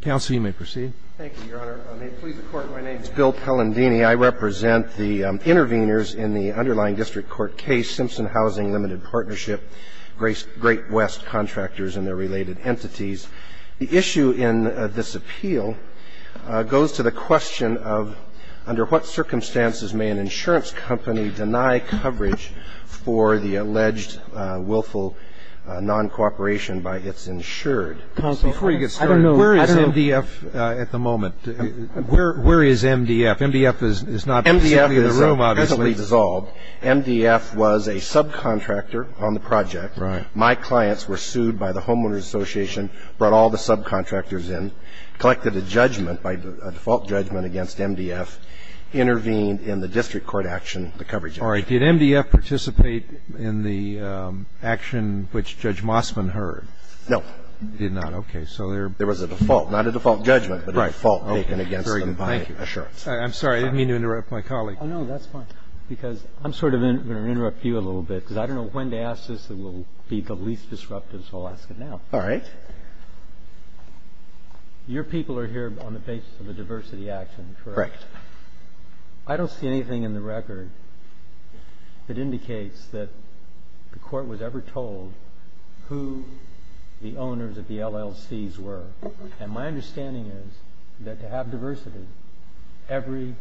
Counsel, you may proceed. Thank you, Your Honor. May it please the Court, my name is Bill Pellandini. I represent the interveners in the underlying district court case, Simpson Housing Limited Partnership, Great West Contractors and their related entities. The issue in this appeal goes to the question of, under what circumstances may an insurance company deny coverage for the alleged willful non-cooperation by its insured? Counsel, I don't know. Where is MDF at the moment? Where is MDF? MDF is not in the room, obviously. MDF is principally dissolved. MDF was a subcontractor on the project. My clients were sued by the Homeowners Association, brought all the subcontractors in, collected a judgment, a default judgment against MDF, intervened in the district court action, the coverage action. Did MDF participate in the action which Judge Mossman heard? No. Did not, OK. So there was a default, not a default judgment, but a default taken against them by insurance. I'm sorry, I didn't mean to interrupt my colleague. Oh, no, that's fine. Because I'm sort of going to interrupt you a little bit, because I don't know when to ask this that will be the least disruptive, so I'll ask it now. All right. Your people are here on the basis of a diversity action, correct? Correct. I don't see anything in the record that indicates that the court was ever told who the owners of the LLCs were. And my understanding is that to have diversity, every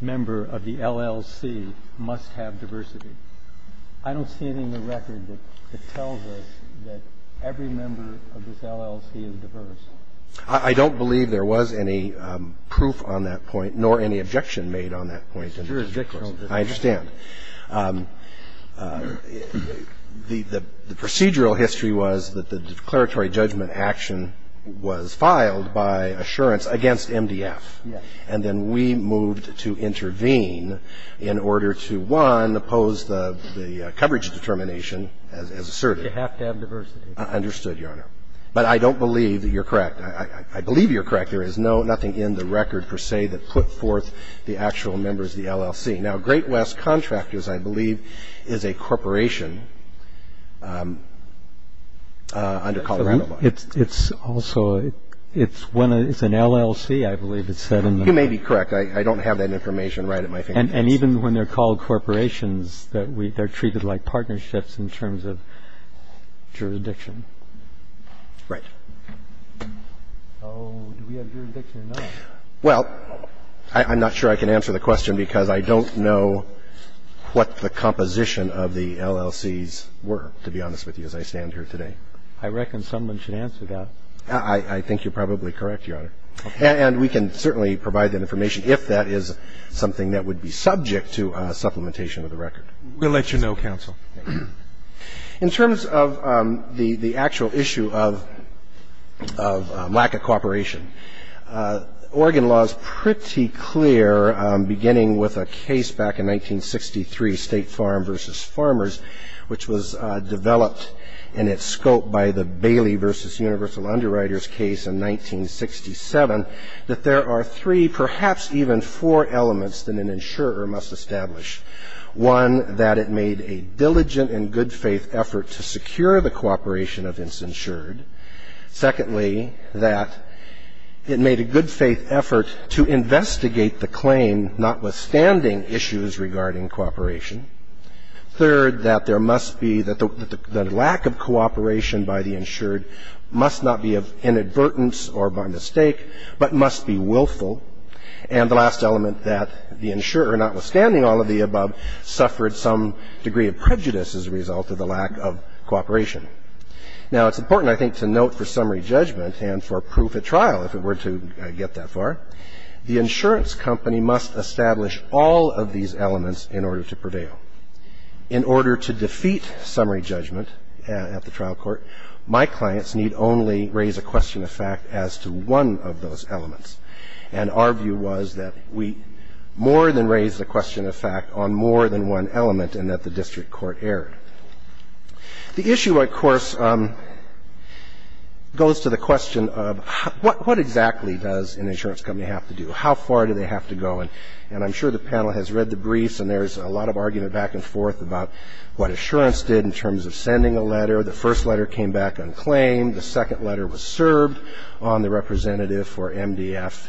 member of the LLC must have diversity. I don't see anything in the record that tells us that every member of this LLC is diverse. I don't believe there was any proof on that point, nor any objection made on that point. It's jurisdictional. I understand. The procedural history was that the declaratory judgment action was filed by assurance against MDF. And then we moved to intervene in order to, one, oppose the coverage determination as asserted. You have to have diversity. Understood, Your Honor. But I don't believe that you're correct. I believe you're correct. There is nothing in the record, per se, that put forth the actual members of the LLC. Now, Great West Contractors, I believe, is a corporation under Colorado Law. It's also an LLC. I believe it's set in the law. You may be correct. I don't have that information right at my fingertips. And even when they're called corporations, they're treated like partnerships in terms of jurisdiction. Right. Oh, do we have jurisdiction or not? Well, I'm not sure I can answer the question, because I don't know what the composition of the LLCs were, to be honest with you, as I stand here today. I reckon someone should answer that. I think you're probably correct, Your Honor. And we can certainly provide that information if that is something that would be subject to supplementation of the record. We'll let you know, counsel. In terms of the actual issue of lack of cooperation, Oregon law is pretty clear, beginning with a case back in 1963, State Farm versus Farmers, which was developed in its scope by the Bailey versus Universal Underwriters case in 1967, that there are three, perhaps even four, elements that an insurer must establish. One, that it made a diligent and good faith effort to secure the cooperation of its insured. Secondly, that it made a good faith effort to investigate the claim, notwithstanding issues regarding cooperation. Third, that there must be the lack of cooperation by the insured must not be of inadvertence or by mistake, but must be willful. And the last element, that the insurer, notwithstanding all of the above, suffered some degree of prejudice as a result of the lack of cooperation. Now, it's important, I think, to note for summary judgment and for proof at trial, if it were to get that far, the insurance company must establish all of these elements in order to prevail. In order to defeat summary judgment at the trial court, my clients need only raise a question of fact as to one of those elements. And our view was that we more than raised a question of fact on more than one element and that the district court erred. The issue, of course, goes to the question of what exactly does an insurance company have to do? How far do they have to go? And I'm sure the panel has read the briefs and there's a lot of argument back and forth about what assurance did in terms of sending a letter. The first letter came back unclaimed. The second letter was served on the representative for MDF.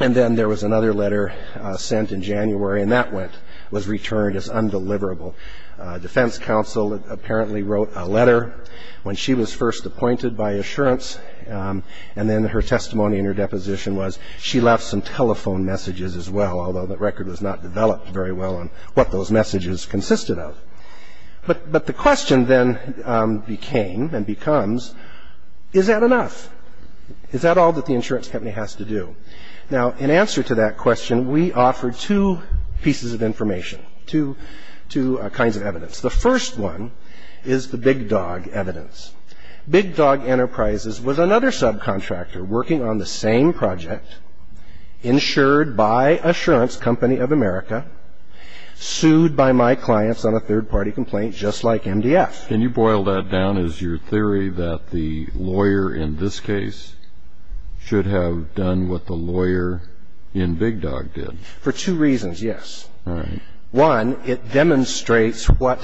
And then there was another letter sent in January and that was returned as undeliverable. Defense counsel apparently wrote a letter when she was first appointed by assurance. And then her testimony in her deposition was she left some telephone messages as well, although that record was not developed very well on what those messages consisted of. But the question then became and becomes, is that enough? Is that all that the insurance company has to do? Now, in answer to that question, we offer two pieces of information, two kinds of evidence. The first one is the Big Dog evidence. Big Dog Enterprises was another subcontractor working on the same project, insured by Assurance Company of America, sued by my clients on a third party complaint just like MDF. Can you boil that down as your theory that the lawyer in this case should have done what the lawyer in Big Dog did? For two reasons, yes. One, it demonstrates what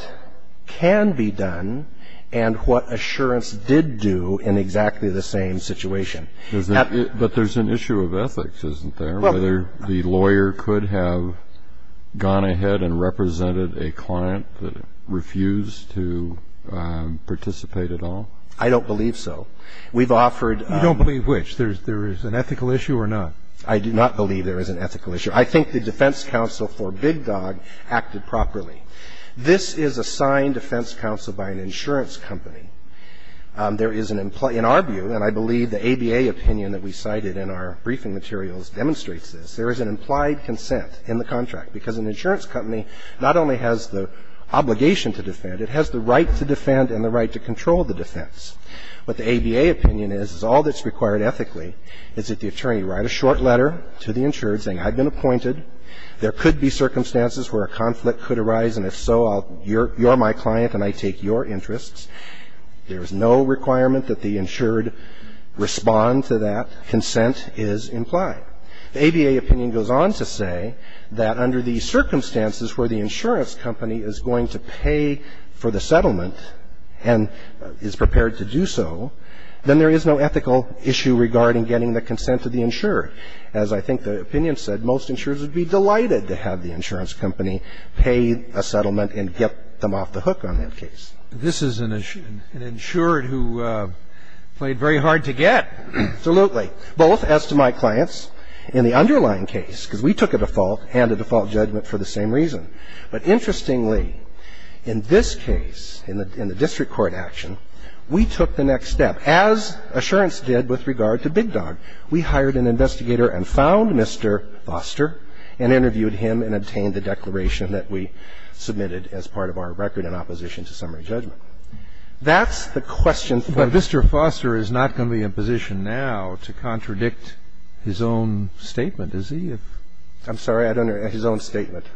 can be done and what Assurance did do in exactly the same situation. But there's an issue of ethics, isn't there? Whether the lawyer could have gone ahead and represented a client that refused to participate at all? I don't believe so. We've offered. You don't believe which? There is an ethical issue or not? I do not believe there is an ethical issue. I think the defense counsel for Big Dog acted properly. This is assigned defense counsel by an insurance company. There is an employee in our view, and I believe the ABA opinion that we cited in our briefing materials demonstrates this. There is an implied consent in the contract, because an insurance company not only has the obligation to defend, it has the right to defend and the right to control the defense. What the ABA opinion is, is all that's required ethically is that the attorney write a short letter to the insured saying, I've been appointed. There could be circumstances where a conflict could arise, and if so, you're my client and I take your interests. There is no requirement that the insured respond to that consent is implied. The ABA opinion goes on to say that under the circumstances where the insurance company is going to pay for the settlement and is prepared to do so, then there is no ethical issue regarding getting the consent of the insured. As I think the opinion said, most insurers would be delighted to have the insurance company pay a settlement and get them off the hook on that case. This is an insured who played very hard to get. Absolutely. Both, as to my clients, in the underlying case, because we took a default and a default judgment for the same reason. But interestingly, in this case, in the district court action, we took the next step, as Assurance did with regard to Big Dog. We hired an investigator and found Mr. Foster and interviewed him and obtained the declaration that we submitted as part of our record in opposition to summary judgment. That's the question for this. But Mr. Foster is not going to be in a position now to contradict his own statement, is he? I'm sorry. I don't know. His own statement.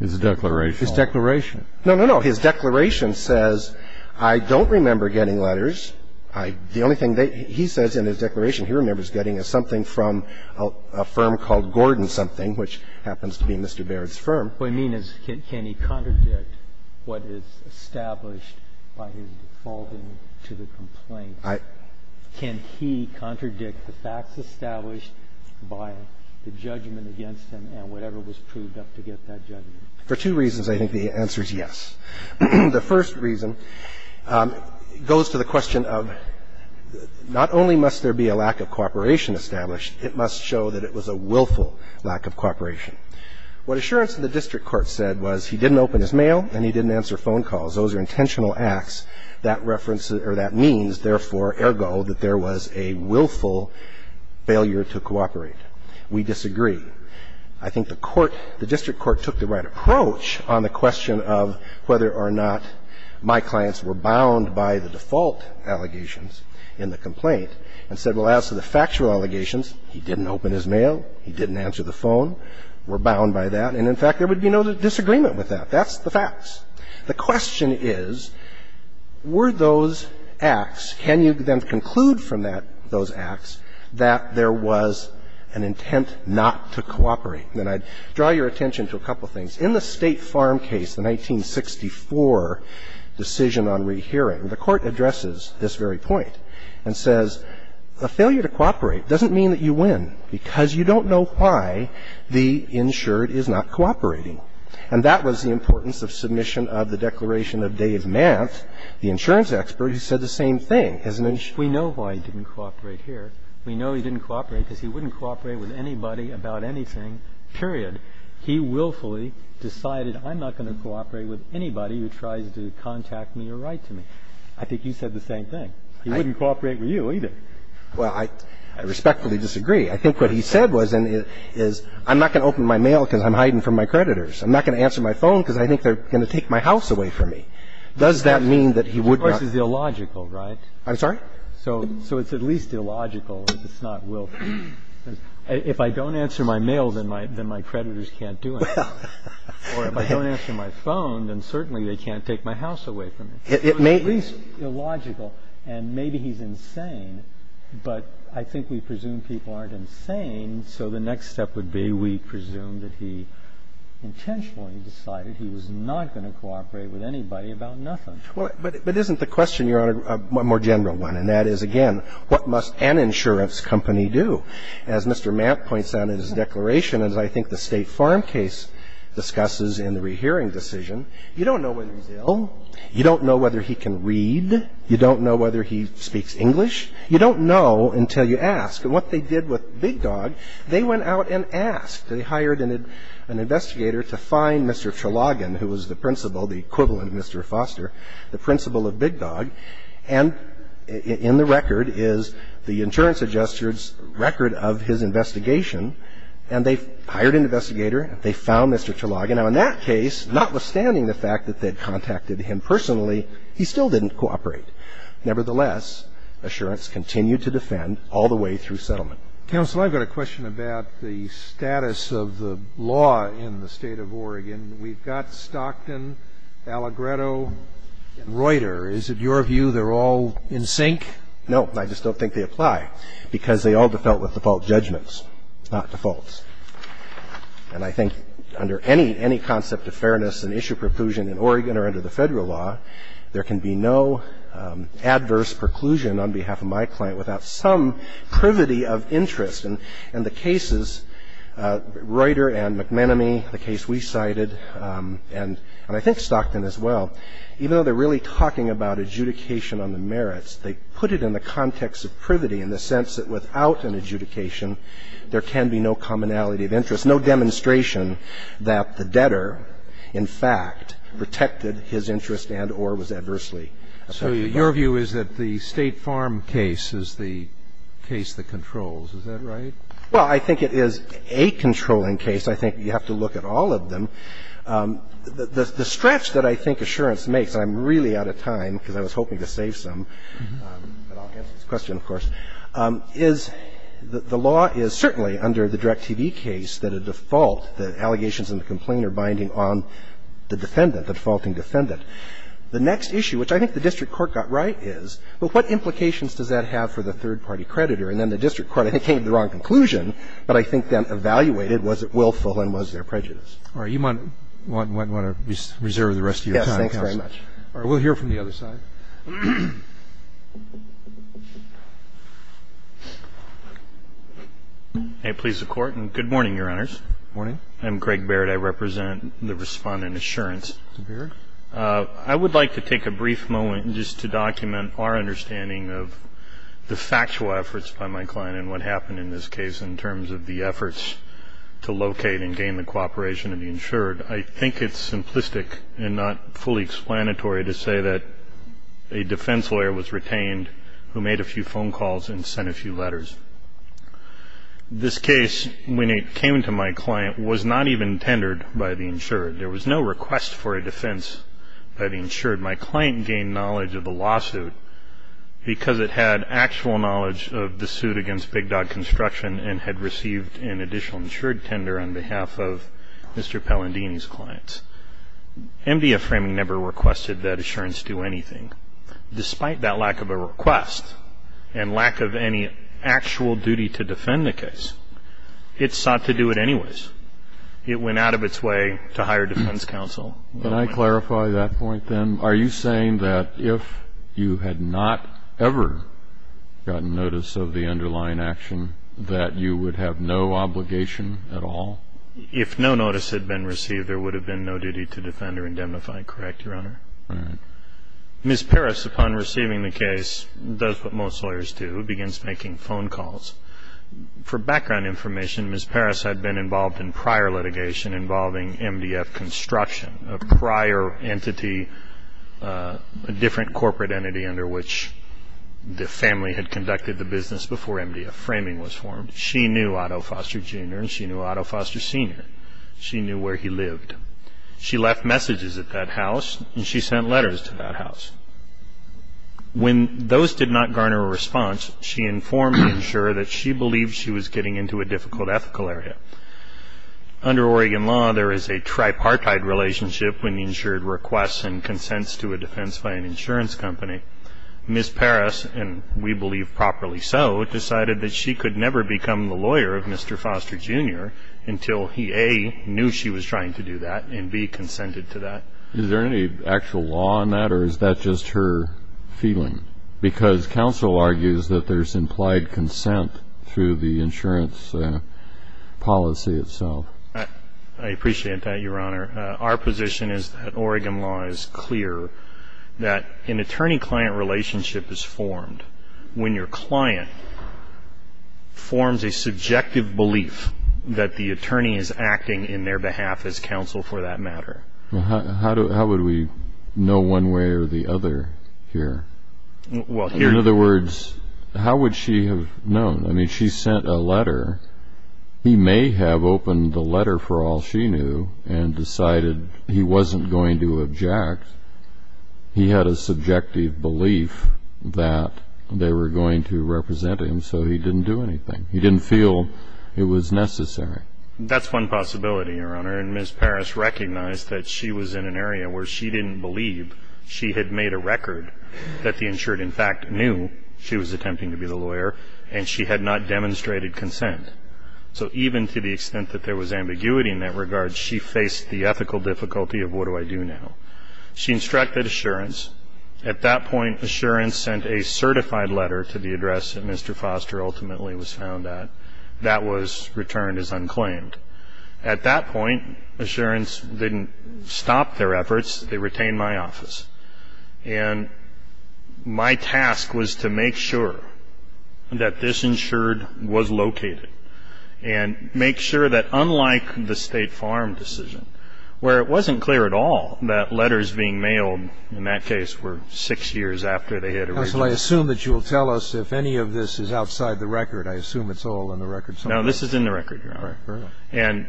His declaration. His declaration. No, no, no. His declaration says, I don't remember getting letters. I – the only thing that he says in his declaration he remembers getting is something from a firm called Gordon Something, which happens to be Mr. Barrett's firm. What I mean is, can he contradict what is established by his defaulting to the complaint? I – Can he contradict the facts established by the judgment against him and whatever was proved up to get that judgment? For two reasons, I think the answer is yes. The first reason goes to the question of, not only must there be a lack of cooperation established, it must show that it was a willful lack of cooperation. What Assurance in the district court said was he didn't open his mail and he didn't answer phone calls. Those are intentional acts. That reference – or that means, therefore, ergo, that there was a willful failure to cooperate. We disagree. I think the court – the district court took the right approach on the question of whether or not my clients were bound by the default allegations in the complaint and said, well, as to the factual allegations, he didn't open his mail, he didn't answer the phone, were bound by that, and in fact, there would be no disagreement with that. That's the facts. The question is, were those acts – can you then conclude from that – those acts that there was an intent not to cooperate? And I'd draw your attention to a couple of things. In the State Farm case, the 1964 decision on rehearing, the court addresses this very point and says, a failure to cooperate doesn't mean that you win because you don't know why the insured is not cooperating. And that was the importance of submission of the declaration of Dave Mant, the insurance expert, who said the same thing. Do you know why he didn't cooperate? Because he wouldn't cooperate with anybody about anything, period. He willfully decided I'm not going to cooperate with anybody who tries to contact me or write to me. I think you said the same thing. He wouldn't cooperate with you, either. Well, I respectfully disagree. I think what he said was and is I'm not going to open my mail because I'm hiding from my creditors. I'm not going to answer my phone because I think they're going to take my house away from me. Does that mean that he would not? Of course, it's illogical, right? I'm sorry? So it's at least illogical if it's not willful. If I don't answer my mail, then my creditors can't do anything. Or if I don't answer my phone, then certainly they can't take my house away from me. It may be illogical. And maybe he's insane. But I think we presume people aren't insane. So the next step would be we presume that he intentionally decided he was not going to cooperate with anybody about nothing. But isn't the question, Your Honor, a more general one? And that is, again, what must an insurance company do? As Mr. Mapp points out in his declaration, as I think the State Farm case discusses in the rehearing decision, you don't know whether he's ill. You don't know whether he can read. You don't know whether he speaks English. You don't know until you ask. And what they did with Big Dog, they went out and asked. They hired an investigator to find Mr. Trelogin, who was the principal, the equivalent of Mr. Foster, the principal of Big Dog. And in the record is the insurance adjuster's record of his investigation. And they hired an investigator. They found Mr. Trelogin. Now, in that case, notwithstanding the fact that they had contacted him personally, he still didn't cooperate. Nevertheless, Assurance continued to defend all the way through settlement. Counsel, I've got a question about the status of the law in the State of Oregon. We've got Stockton, Allegretto, and Reuter. Is it your view they're all in sync? No, I just don't think they apply, because they all default with default judgments, not defaults. And I think under any concept of fairness and issue preclusion in Oregon or under the federal law, there can be no adverse preclusion on behalf of my client without some privity of interest. And the cases, Reuter and McManamie, the case we cited, and I think Stockton as well, even though they're really talking about adjudication on the merits, they put it in the context of privity in the sense that without an adjudication, there can be no commonality of interest, no demonstration that the debtor, in fact, protected his interest and or was adversely affected by it. So your view is that the State Farm case is the case that controls. Is that right? Well, I think it is a controlling case. I think you have to look at all of them. The stretch that I think Assurance makes, and I'm really out of time because I was hoping to save some, but I'll answer this question, of course, is the law is certainly under the Direct TV case that a default, the allegations and the complaint are binding on the defendant, the defaulting defendant. The next issue, which I think the district court got right, is, well, what implications does that have for the third-party creditor? And then the district court, I think, came to the wrong conclusion, but I think then evaluated was it willful and was there prejudice. All right. You might want to reserve the rest of your time. Yes. Thanks very much. All right. We'll hear from the other side. May it please the Court. And good morning, Your Honors. Good morning. I'm Craig Barrett. I represent the Respondent Assurance. I would like to take a brief moment just to document our understanding of the factual efforts by my client and what happened in this case in terms of the efforts to locate and gain the cooperation of the insured. I think it's simplistic and not fully explanatory to say that a defense lawyer was retained who made a few phone calls and sent a few letters. This case, when it came to my client, was not even tendered by the insured. There was no request for a defense by the insured. My client gained knowledge of the lawsuit because it had actual knowledge of the suit against Big Dog Construction and had received an additional insured tender on behalf of Mr. Pellandini's clients. MDF Framing never requested that assurance do anything. Despite that lack of a request and lack of any actual duty to defend the case, it sought to do it anyways. It went out of its way to hire defense counsel. Can I clarify that point then? Are you saying that if you had not ever gotten notice of the underlying action that you would have no obligation at all? If no notice had been received, there would have been no duty to defend or indemnify, correct, Your Honor? Right. Ms. Parris, upon receiving the case, does what most lawyers do, begins making phone calls. For background information, Ms. Parris had been involved in prior litigation involving MDF Construction, a prior entity, a different corporate entity under which the family had conducted the business before MDF Framing was formed. She knew Otto Foster, Jr. and she knew Otto Foster, Sr. She knew where he lived. She left messages at that house and she sent letters to that house. When those did not garner a response, she informed the insurer that she believed she was getting into a difficult ethical area. Under Oregon law, there is a tripartite relationship when the insurer requests and consents to a defense by an insurance company. Ms. Parris, and we believe properly so, decided that she could never become the lawyer of Mr. Foster, Jr. until he, A, knew she was trying to do that and, B, consented to that. Is there any actual law on that or is that just her feeling? Because counsel argues that there's implied consent through the insurance policy itself. I appreciate that, Your Honor. Our position is that Oregon law is clear, that an attorney-client relationship is formed when your client forms a subjective belief that the attorney is acting in their behalf as counsel for that matter. How would we know one way or the other here? Well, here- In other words, how would she have known? I mean, she sent a letter. He may have opened the letter, for all she knew, and decided he wasn't going to object. He had a subjective belief that they were going to represent him, so he didn't do anything. He didn't feel it was necessary. That's one possibility, Your Honor, and Ms. Parris recognized that she was in an area where she didn't believe she had made a record, that the insured, in fact, knew she was attempting to be the lawyer, and she had not demonstrated consent. So even to the extent that there was ambiguity in that regard, she faced the ethical difficulty of, what do I do now? She instructed assurance. At that point, assurance sent a certified letter to the address that Mr. Foster ultimately was found at. That was returned as unclaimed. At that point, assurance didn't stop their efforts. They retained my office. And my task was to make sure that this insured was located, and make sure that, in fact, the letters being mailed, in that case, were six years after they had originally been found. So I assume that you will tell us if any of this is outside the record. I assume it's all in the records. No, this is in the record, Your Honor. And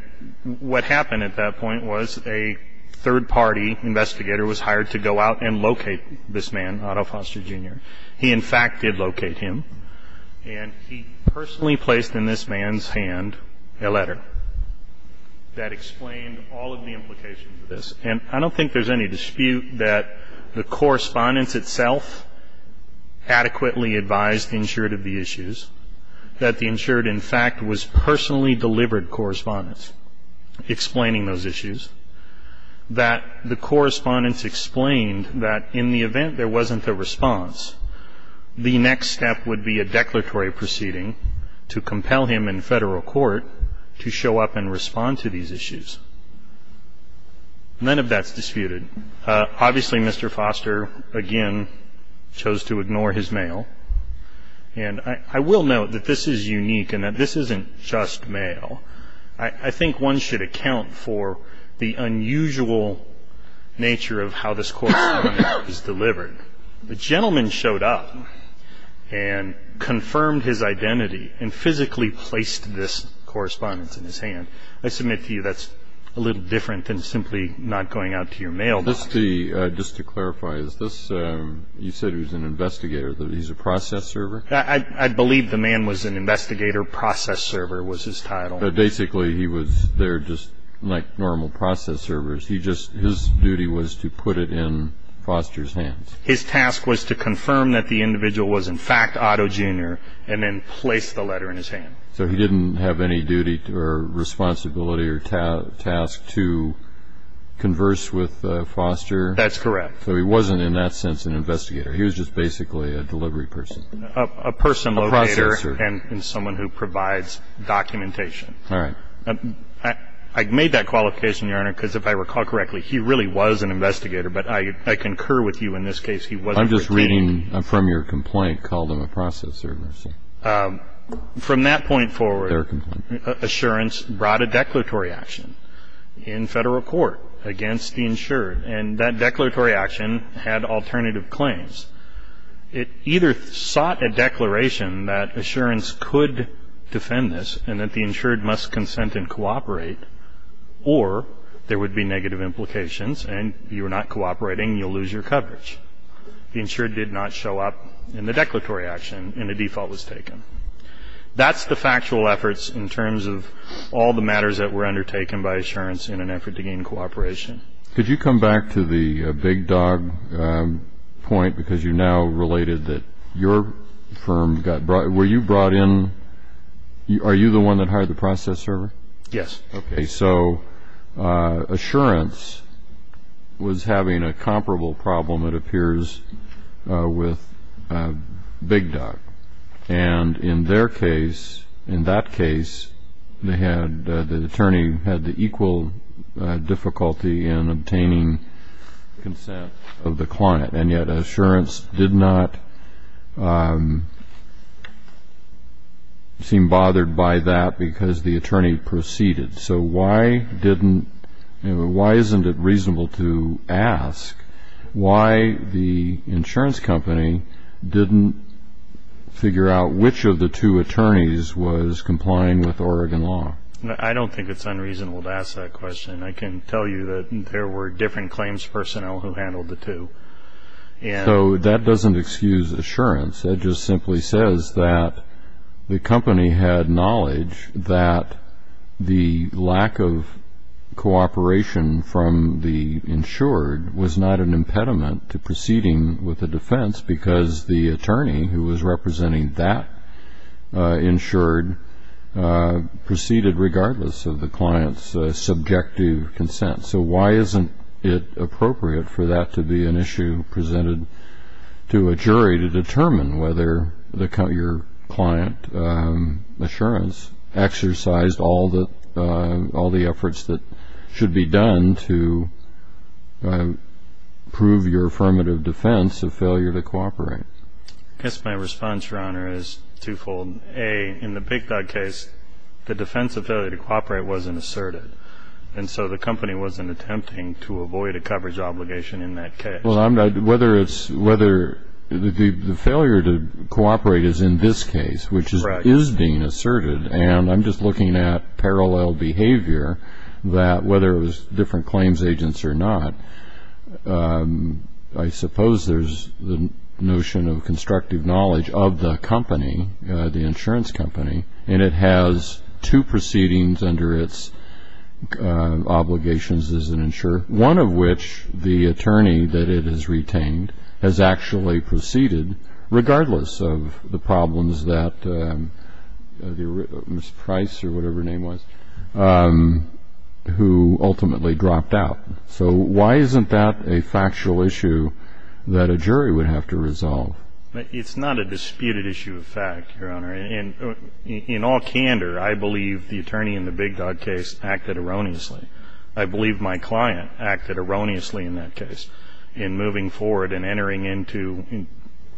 what happened at that point was a third-party investigator was hired to go out and locate this man, Otto Foster, Jr. He, in fact, did locate him, and he personally placed in this man's hand a letter that explained all of the implications of this. And I don't think there's any dispute that the correspondence itself adequately advised the insured of the issues, that the insured, in fact, was personally delivered correspondence explaining those issues, that the correspondence explained that in the event there wasn't a response, the next step would be a declaratory proceeding to compel him in Federal court to show up and respond to these issues. None of that's disputed. Obviously, Mr. Foster, again, chose to ignore his mail. And I will note that this is unique and that this isn't just mail. I think one should account for the unusual nature of how this correspondence is delivered. The gentleman showed up and confirmed his identity and physically placed this correspondence in his hand. I submit to you that's a little different than simply not going out to your mail. Just to clarify, is this, you said he was an investigator, that he's a process server? I believe the man was an investigator, process server was his title. But basically, he was there just like normal process servers. He just, his duty was to put it in Foster's hands. His task was to confirm that the individual was, in fact, Otto, Jr., and then place the letter in his hand. So he didn't have any duty or responsibility or task to converse with Foster? That's correct. So he wasn't, in that sense, an investigator. He was just basically a delivery person. A person locator and someone who provides documentation. All right. I made that qualification, Your Honor, because if I recall correctly, he really was an investigator. But I concur with you in this case, he wasn't. I'm just reading from your complaint, called him a process server. From that point forward, assurance brought a declaratory action in federal court against the insured. And that declaratory action had alternative claims. It either sought a declaration that assurance could defend this and that the insured must consent and cooperate, or there would be negative implications and you're not cooperating, you'll lose your coverage. The insured did not show up in the declaratory action, and the default was taken. That's the factual efforts in terms of all the matters that were undertaken by assurance in an effort to gain cooperation. Could you come back to the big dog point, because you now related that your firm got brought, were you brought in, are you the one that hired the process server? Yes. So assurance was having a comparable problem, it appears, with big dog. And in their case, in that case, the attorney had the equal difficulty in obtaining consent of the client. And yet assurance did not seem bothered by that because the attorney proceeded. So why didn't, why isn't it reasonable to ask why the insurance company didn't figure out which of the two attorneys was complying with Oregon law? I don't think it's unreasonable to ask that question. I can tell you that there were different claims personnel who handled the two. So that doesn't excuse assurance, that just simply says that the company had lack of cooperation from the insured was not an impediment to proceeding with the defense because the attorney who was representing that insured proceeded regardless of the client's subjective consent. So why isn't it appropriate for that to be an issue presented to a jury to all the efforts that should be done to prove your affirmative defense of failure to cooperate? Yes, my response, Your Honor, is twofold. A, in the big dog case, the defense of failure to cooperate wasn't asserted. And so the company wasn't attempting to avoid a coverage obligation in that case. Well, I'm not, whether it's, whether the failure to cooperate is in this case, which is being asserted. And I'm just looking at parallel behavior that whether it was different claims agents or not, I suppose there's the notion of constructive knowledge of the company, the insurance company, and it has two proceedings under its obligations as an insurer, one of which the attorney that it has retained has actually proceeded regardless of the problems that Mr. Price or whatever name was who ultimately dropped out. So why isn't that a factual issue that a jury would have to resolve? It's not a disputed issue of fact, Your Honor. And in all candor, I believe the attorney in the big dog case acted erroneously. I believe my client acted erroneously in that case in moving forward and entering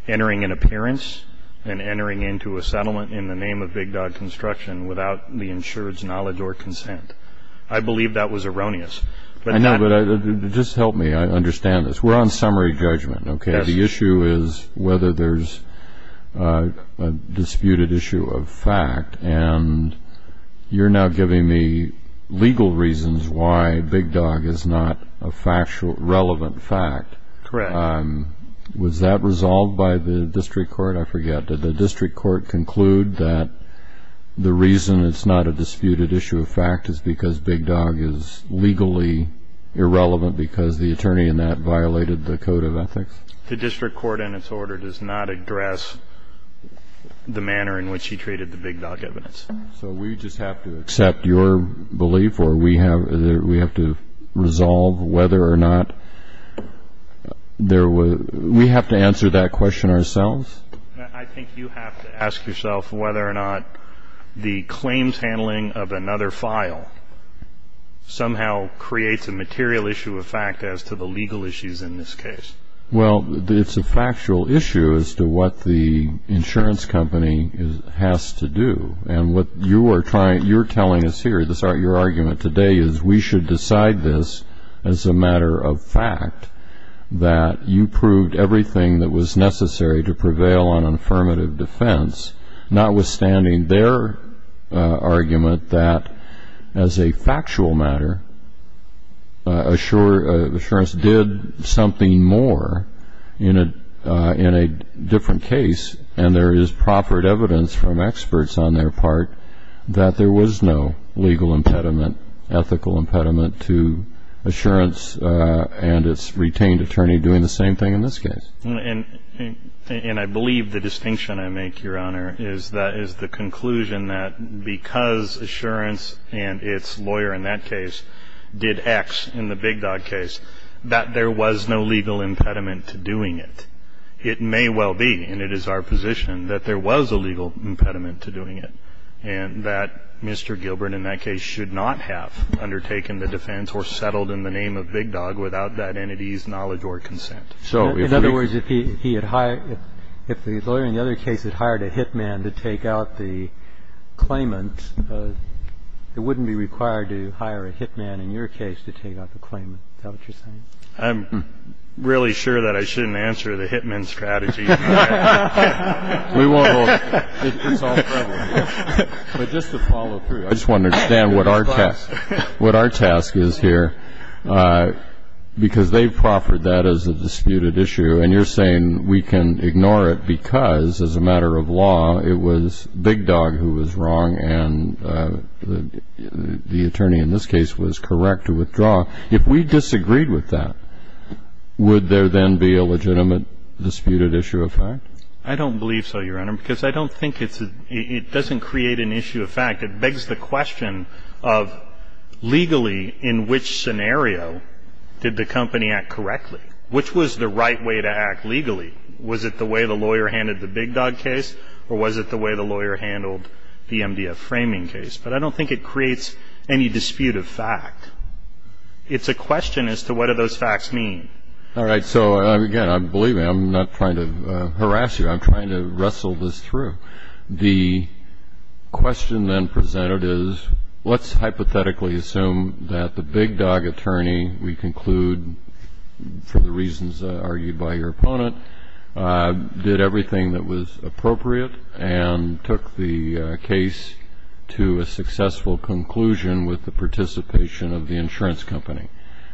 an appearance and entering into a settlement in the name of big dog construction without the insurer's knowledge or consent. I believe that was erroneous. I know, but just help me understand this. We're on summary judgment, okay? The issue is whether there's a disputed issue of fact. And you're now giving me legal reasons why big dog is not a factual, relevant fact. Correct. Was that resolved by the district court? I forget. Did the district court conclude that the reason it's not a disputed issue of fact is because big dog is legally irrelevant because the attorney in that violated the code of ethics? The district court in its order does not address the manner in which he treated the big dog evidence. So we just have to accept your belief, or we have to resolve whether or not there was, we have to answer that question ourselves. I think you have to ask yourself whether or not the claims handling of another file somehow creates a material issue of fact as to the legal issues in this case. Well, it's a factual issue as to what the insurance company has to do. And what you're telling us here, your argument today is we should decide this as a matter of fact, that you proved everything that was necessary to prevail on affirmative defense, notwithstanding their argument that as a factual matter, insurance did something more in a different case. And there is proffered evidence from experts on their part that there was no legal impediment, ethical impediment to insurance and its retained attorney doing the same thing in this case. And I believe the distinction I make, Your Honor, is that is the conclusion that because insurance and its lawyer in that case did X in the big dog case, that there was no legal impediment to doing it. It may well be, and it is our position, that there was a legal impediment to doing it, and that Mr. Gilbert in that case should not have undertaken the defense or settled in the name of big dog without that entity's knowledge or consent. So if we- In other words, if he had hired, if the lawyer in the other case had hired a hitman to take out the claimant, it wouldn't be required to hire a hitman in your case to take out the claimant. Is that what you're saying? I'm really sure that I shouldn't answer the hitman strategy. We won't hold it. It's all prevalent. But just to follow through, I just want to understand what our task is here, because they've proffered that as a disputed issue, and you're saying we can ignore it because, as a matter of law, it was big dog who was wrong and the attorney in this case was correct to withdraw. If we disagreed with that, would there then be a legitimate disputed issue of fact? I don't believe so, Your Honor, because I don't think it's a- It doesn't create an issue of fact. It begs the question of legally in which scenario did the company act correctly? Which was the right way to act legally? Was it the way the lawyer handed the big dog case or was it the way the lawyer handled the MDF framing case? But I don't think it creates any dispute of fact. It's a question as to what do those facts mean. All right. So, again, believe me, I'm not trying to harass you. I'm trying to wrestle this through. The question then presented is let's hypothetically assume that the big dog attorney, we conclude for the reasons argued by your opponent, did everything that was appropriate and took the case to a successful conclusion with the participation of the insurance company.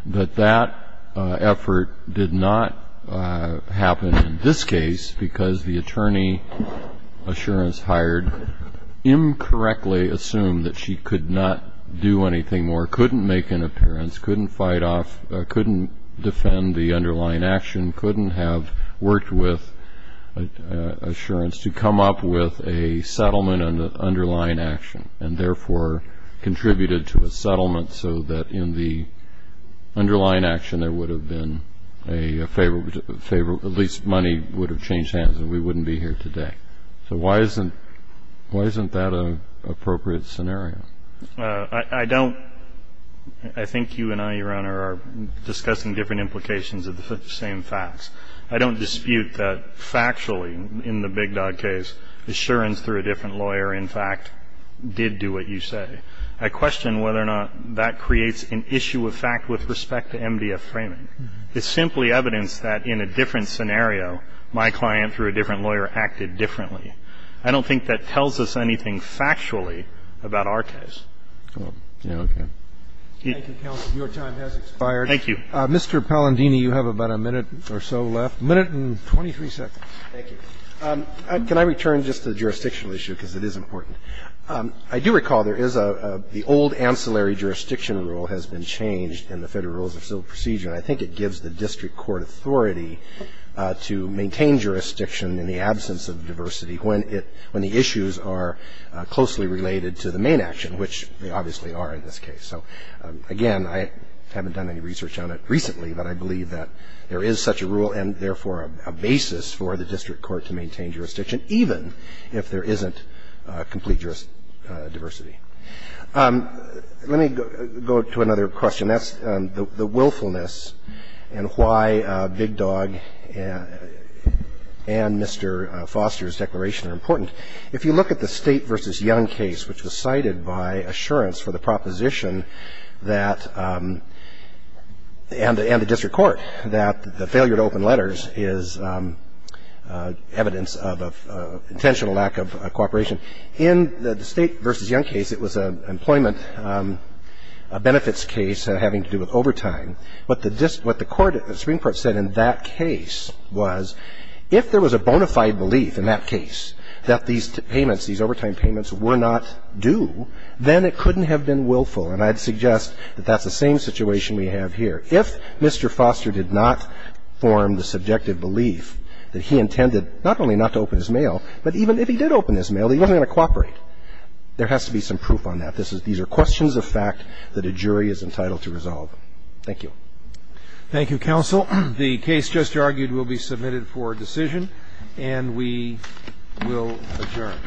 But that effort did not happen in this case because the attorney assurance hired incorrectly assumed that she could not do anything more, couldn't make an appearance, couldn't fight off, couldn't defend the underlying action, couldn't have worked with insurance to come up with a settlement on the underlying action, there would have been a favor, at least money would have changed hands and we wouldn't be here today. So why isn't that an appropriate scenario? I don't. I think you and I, Your Honor, are discussing different implications of the same facts. I don't dispute that factually in the big dog case, assurance through a different lawyer, in fact, did do what you say. I question whether or not that creates an issue of fact with respect to MDF framing. It's simply evidence that in a different scenario, my client through a different lawyer acted differently. I don't think that tells us anything factually about our case. Thank you. Thank you, counsel. Your time has expired. Thank you. Mr. Palandini, you have about a minute or so left, a minute and 23 seconds. Thank you. Can I return just to the jurisdictional issue because it is important? I do recall there is the old ancillary jurisdiction rule has been changed in the Federal Rules of Civil Procedure. I think it gives the district court authority to maintain jurisdiction in the absence of diversity when the issues are closely related to the main action, which they obviously are in this case. So, again, I haven't done any research on it recently, but I believe that there is such a rule and, therefore, a basis for the district court to maintain juris diversity. Let me go to another question. That's the willfulness and why Big Dog and Mr. Foster's declaration are important. If you look at the State v. Young case, which was cited by assurance for the proposition that and the district court that the failure to open letters is evidence of intentional lack of cooperation. In the State v. Young case, it was an employment benefits case having to do with overtime. But what the Supreme Court said in that case was if there was a bona fide belief in that case that these payments, these overtime payments were not due, then it couldn't have been willful. And I'd suggest that that's the same situation we have here. If Mr. Foster did not form the subjective belief that he intended not only not to open this mail, that he wasn't going to cooperate, there has to be some proof on that. These are questions of fact that a jury is entitled to resolve. Thank you. Thank you, counsel. The case just argued will be submitted for decision, and we will adjourn.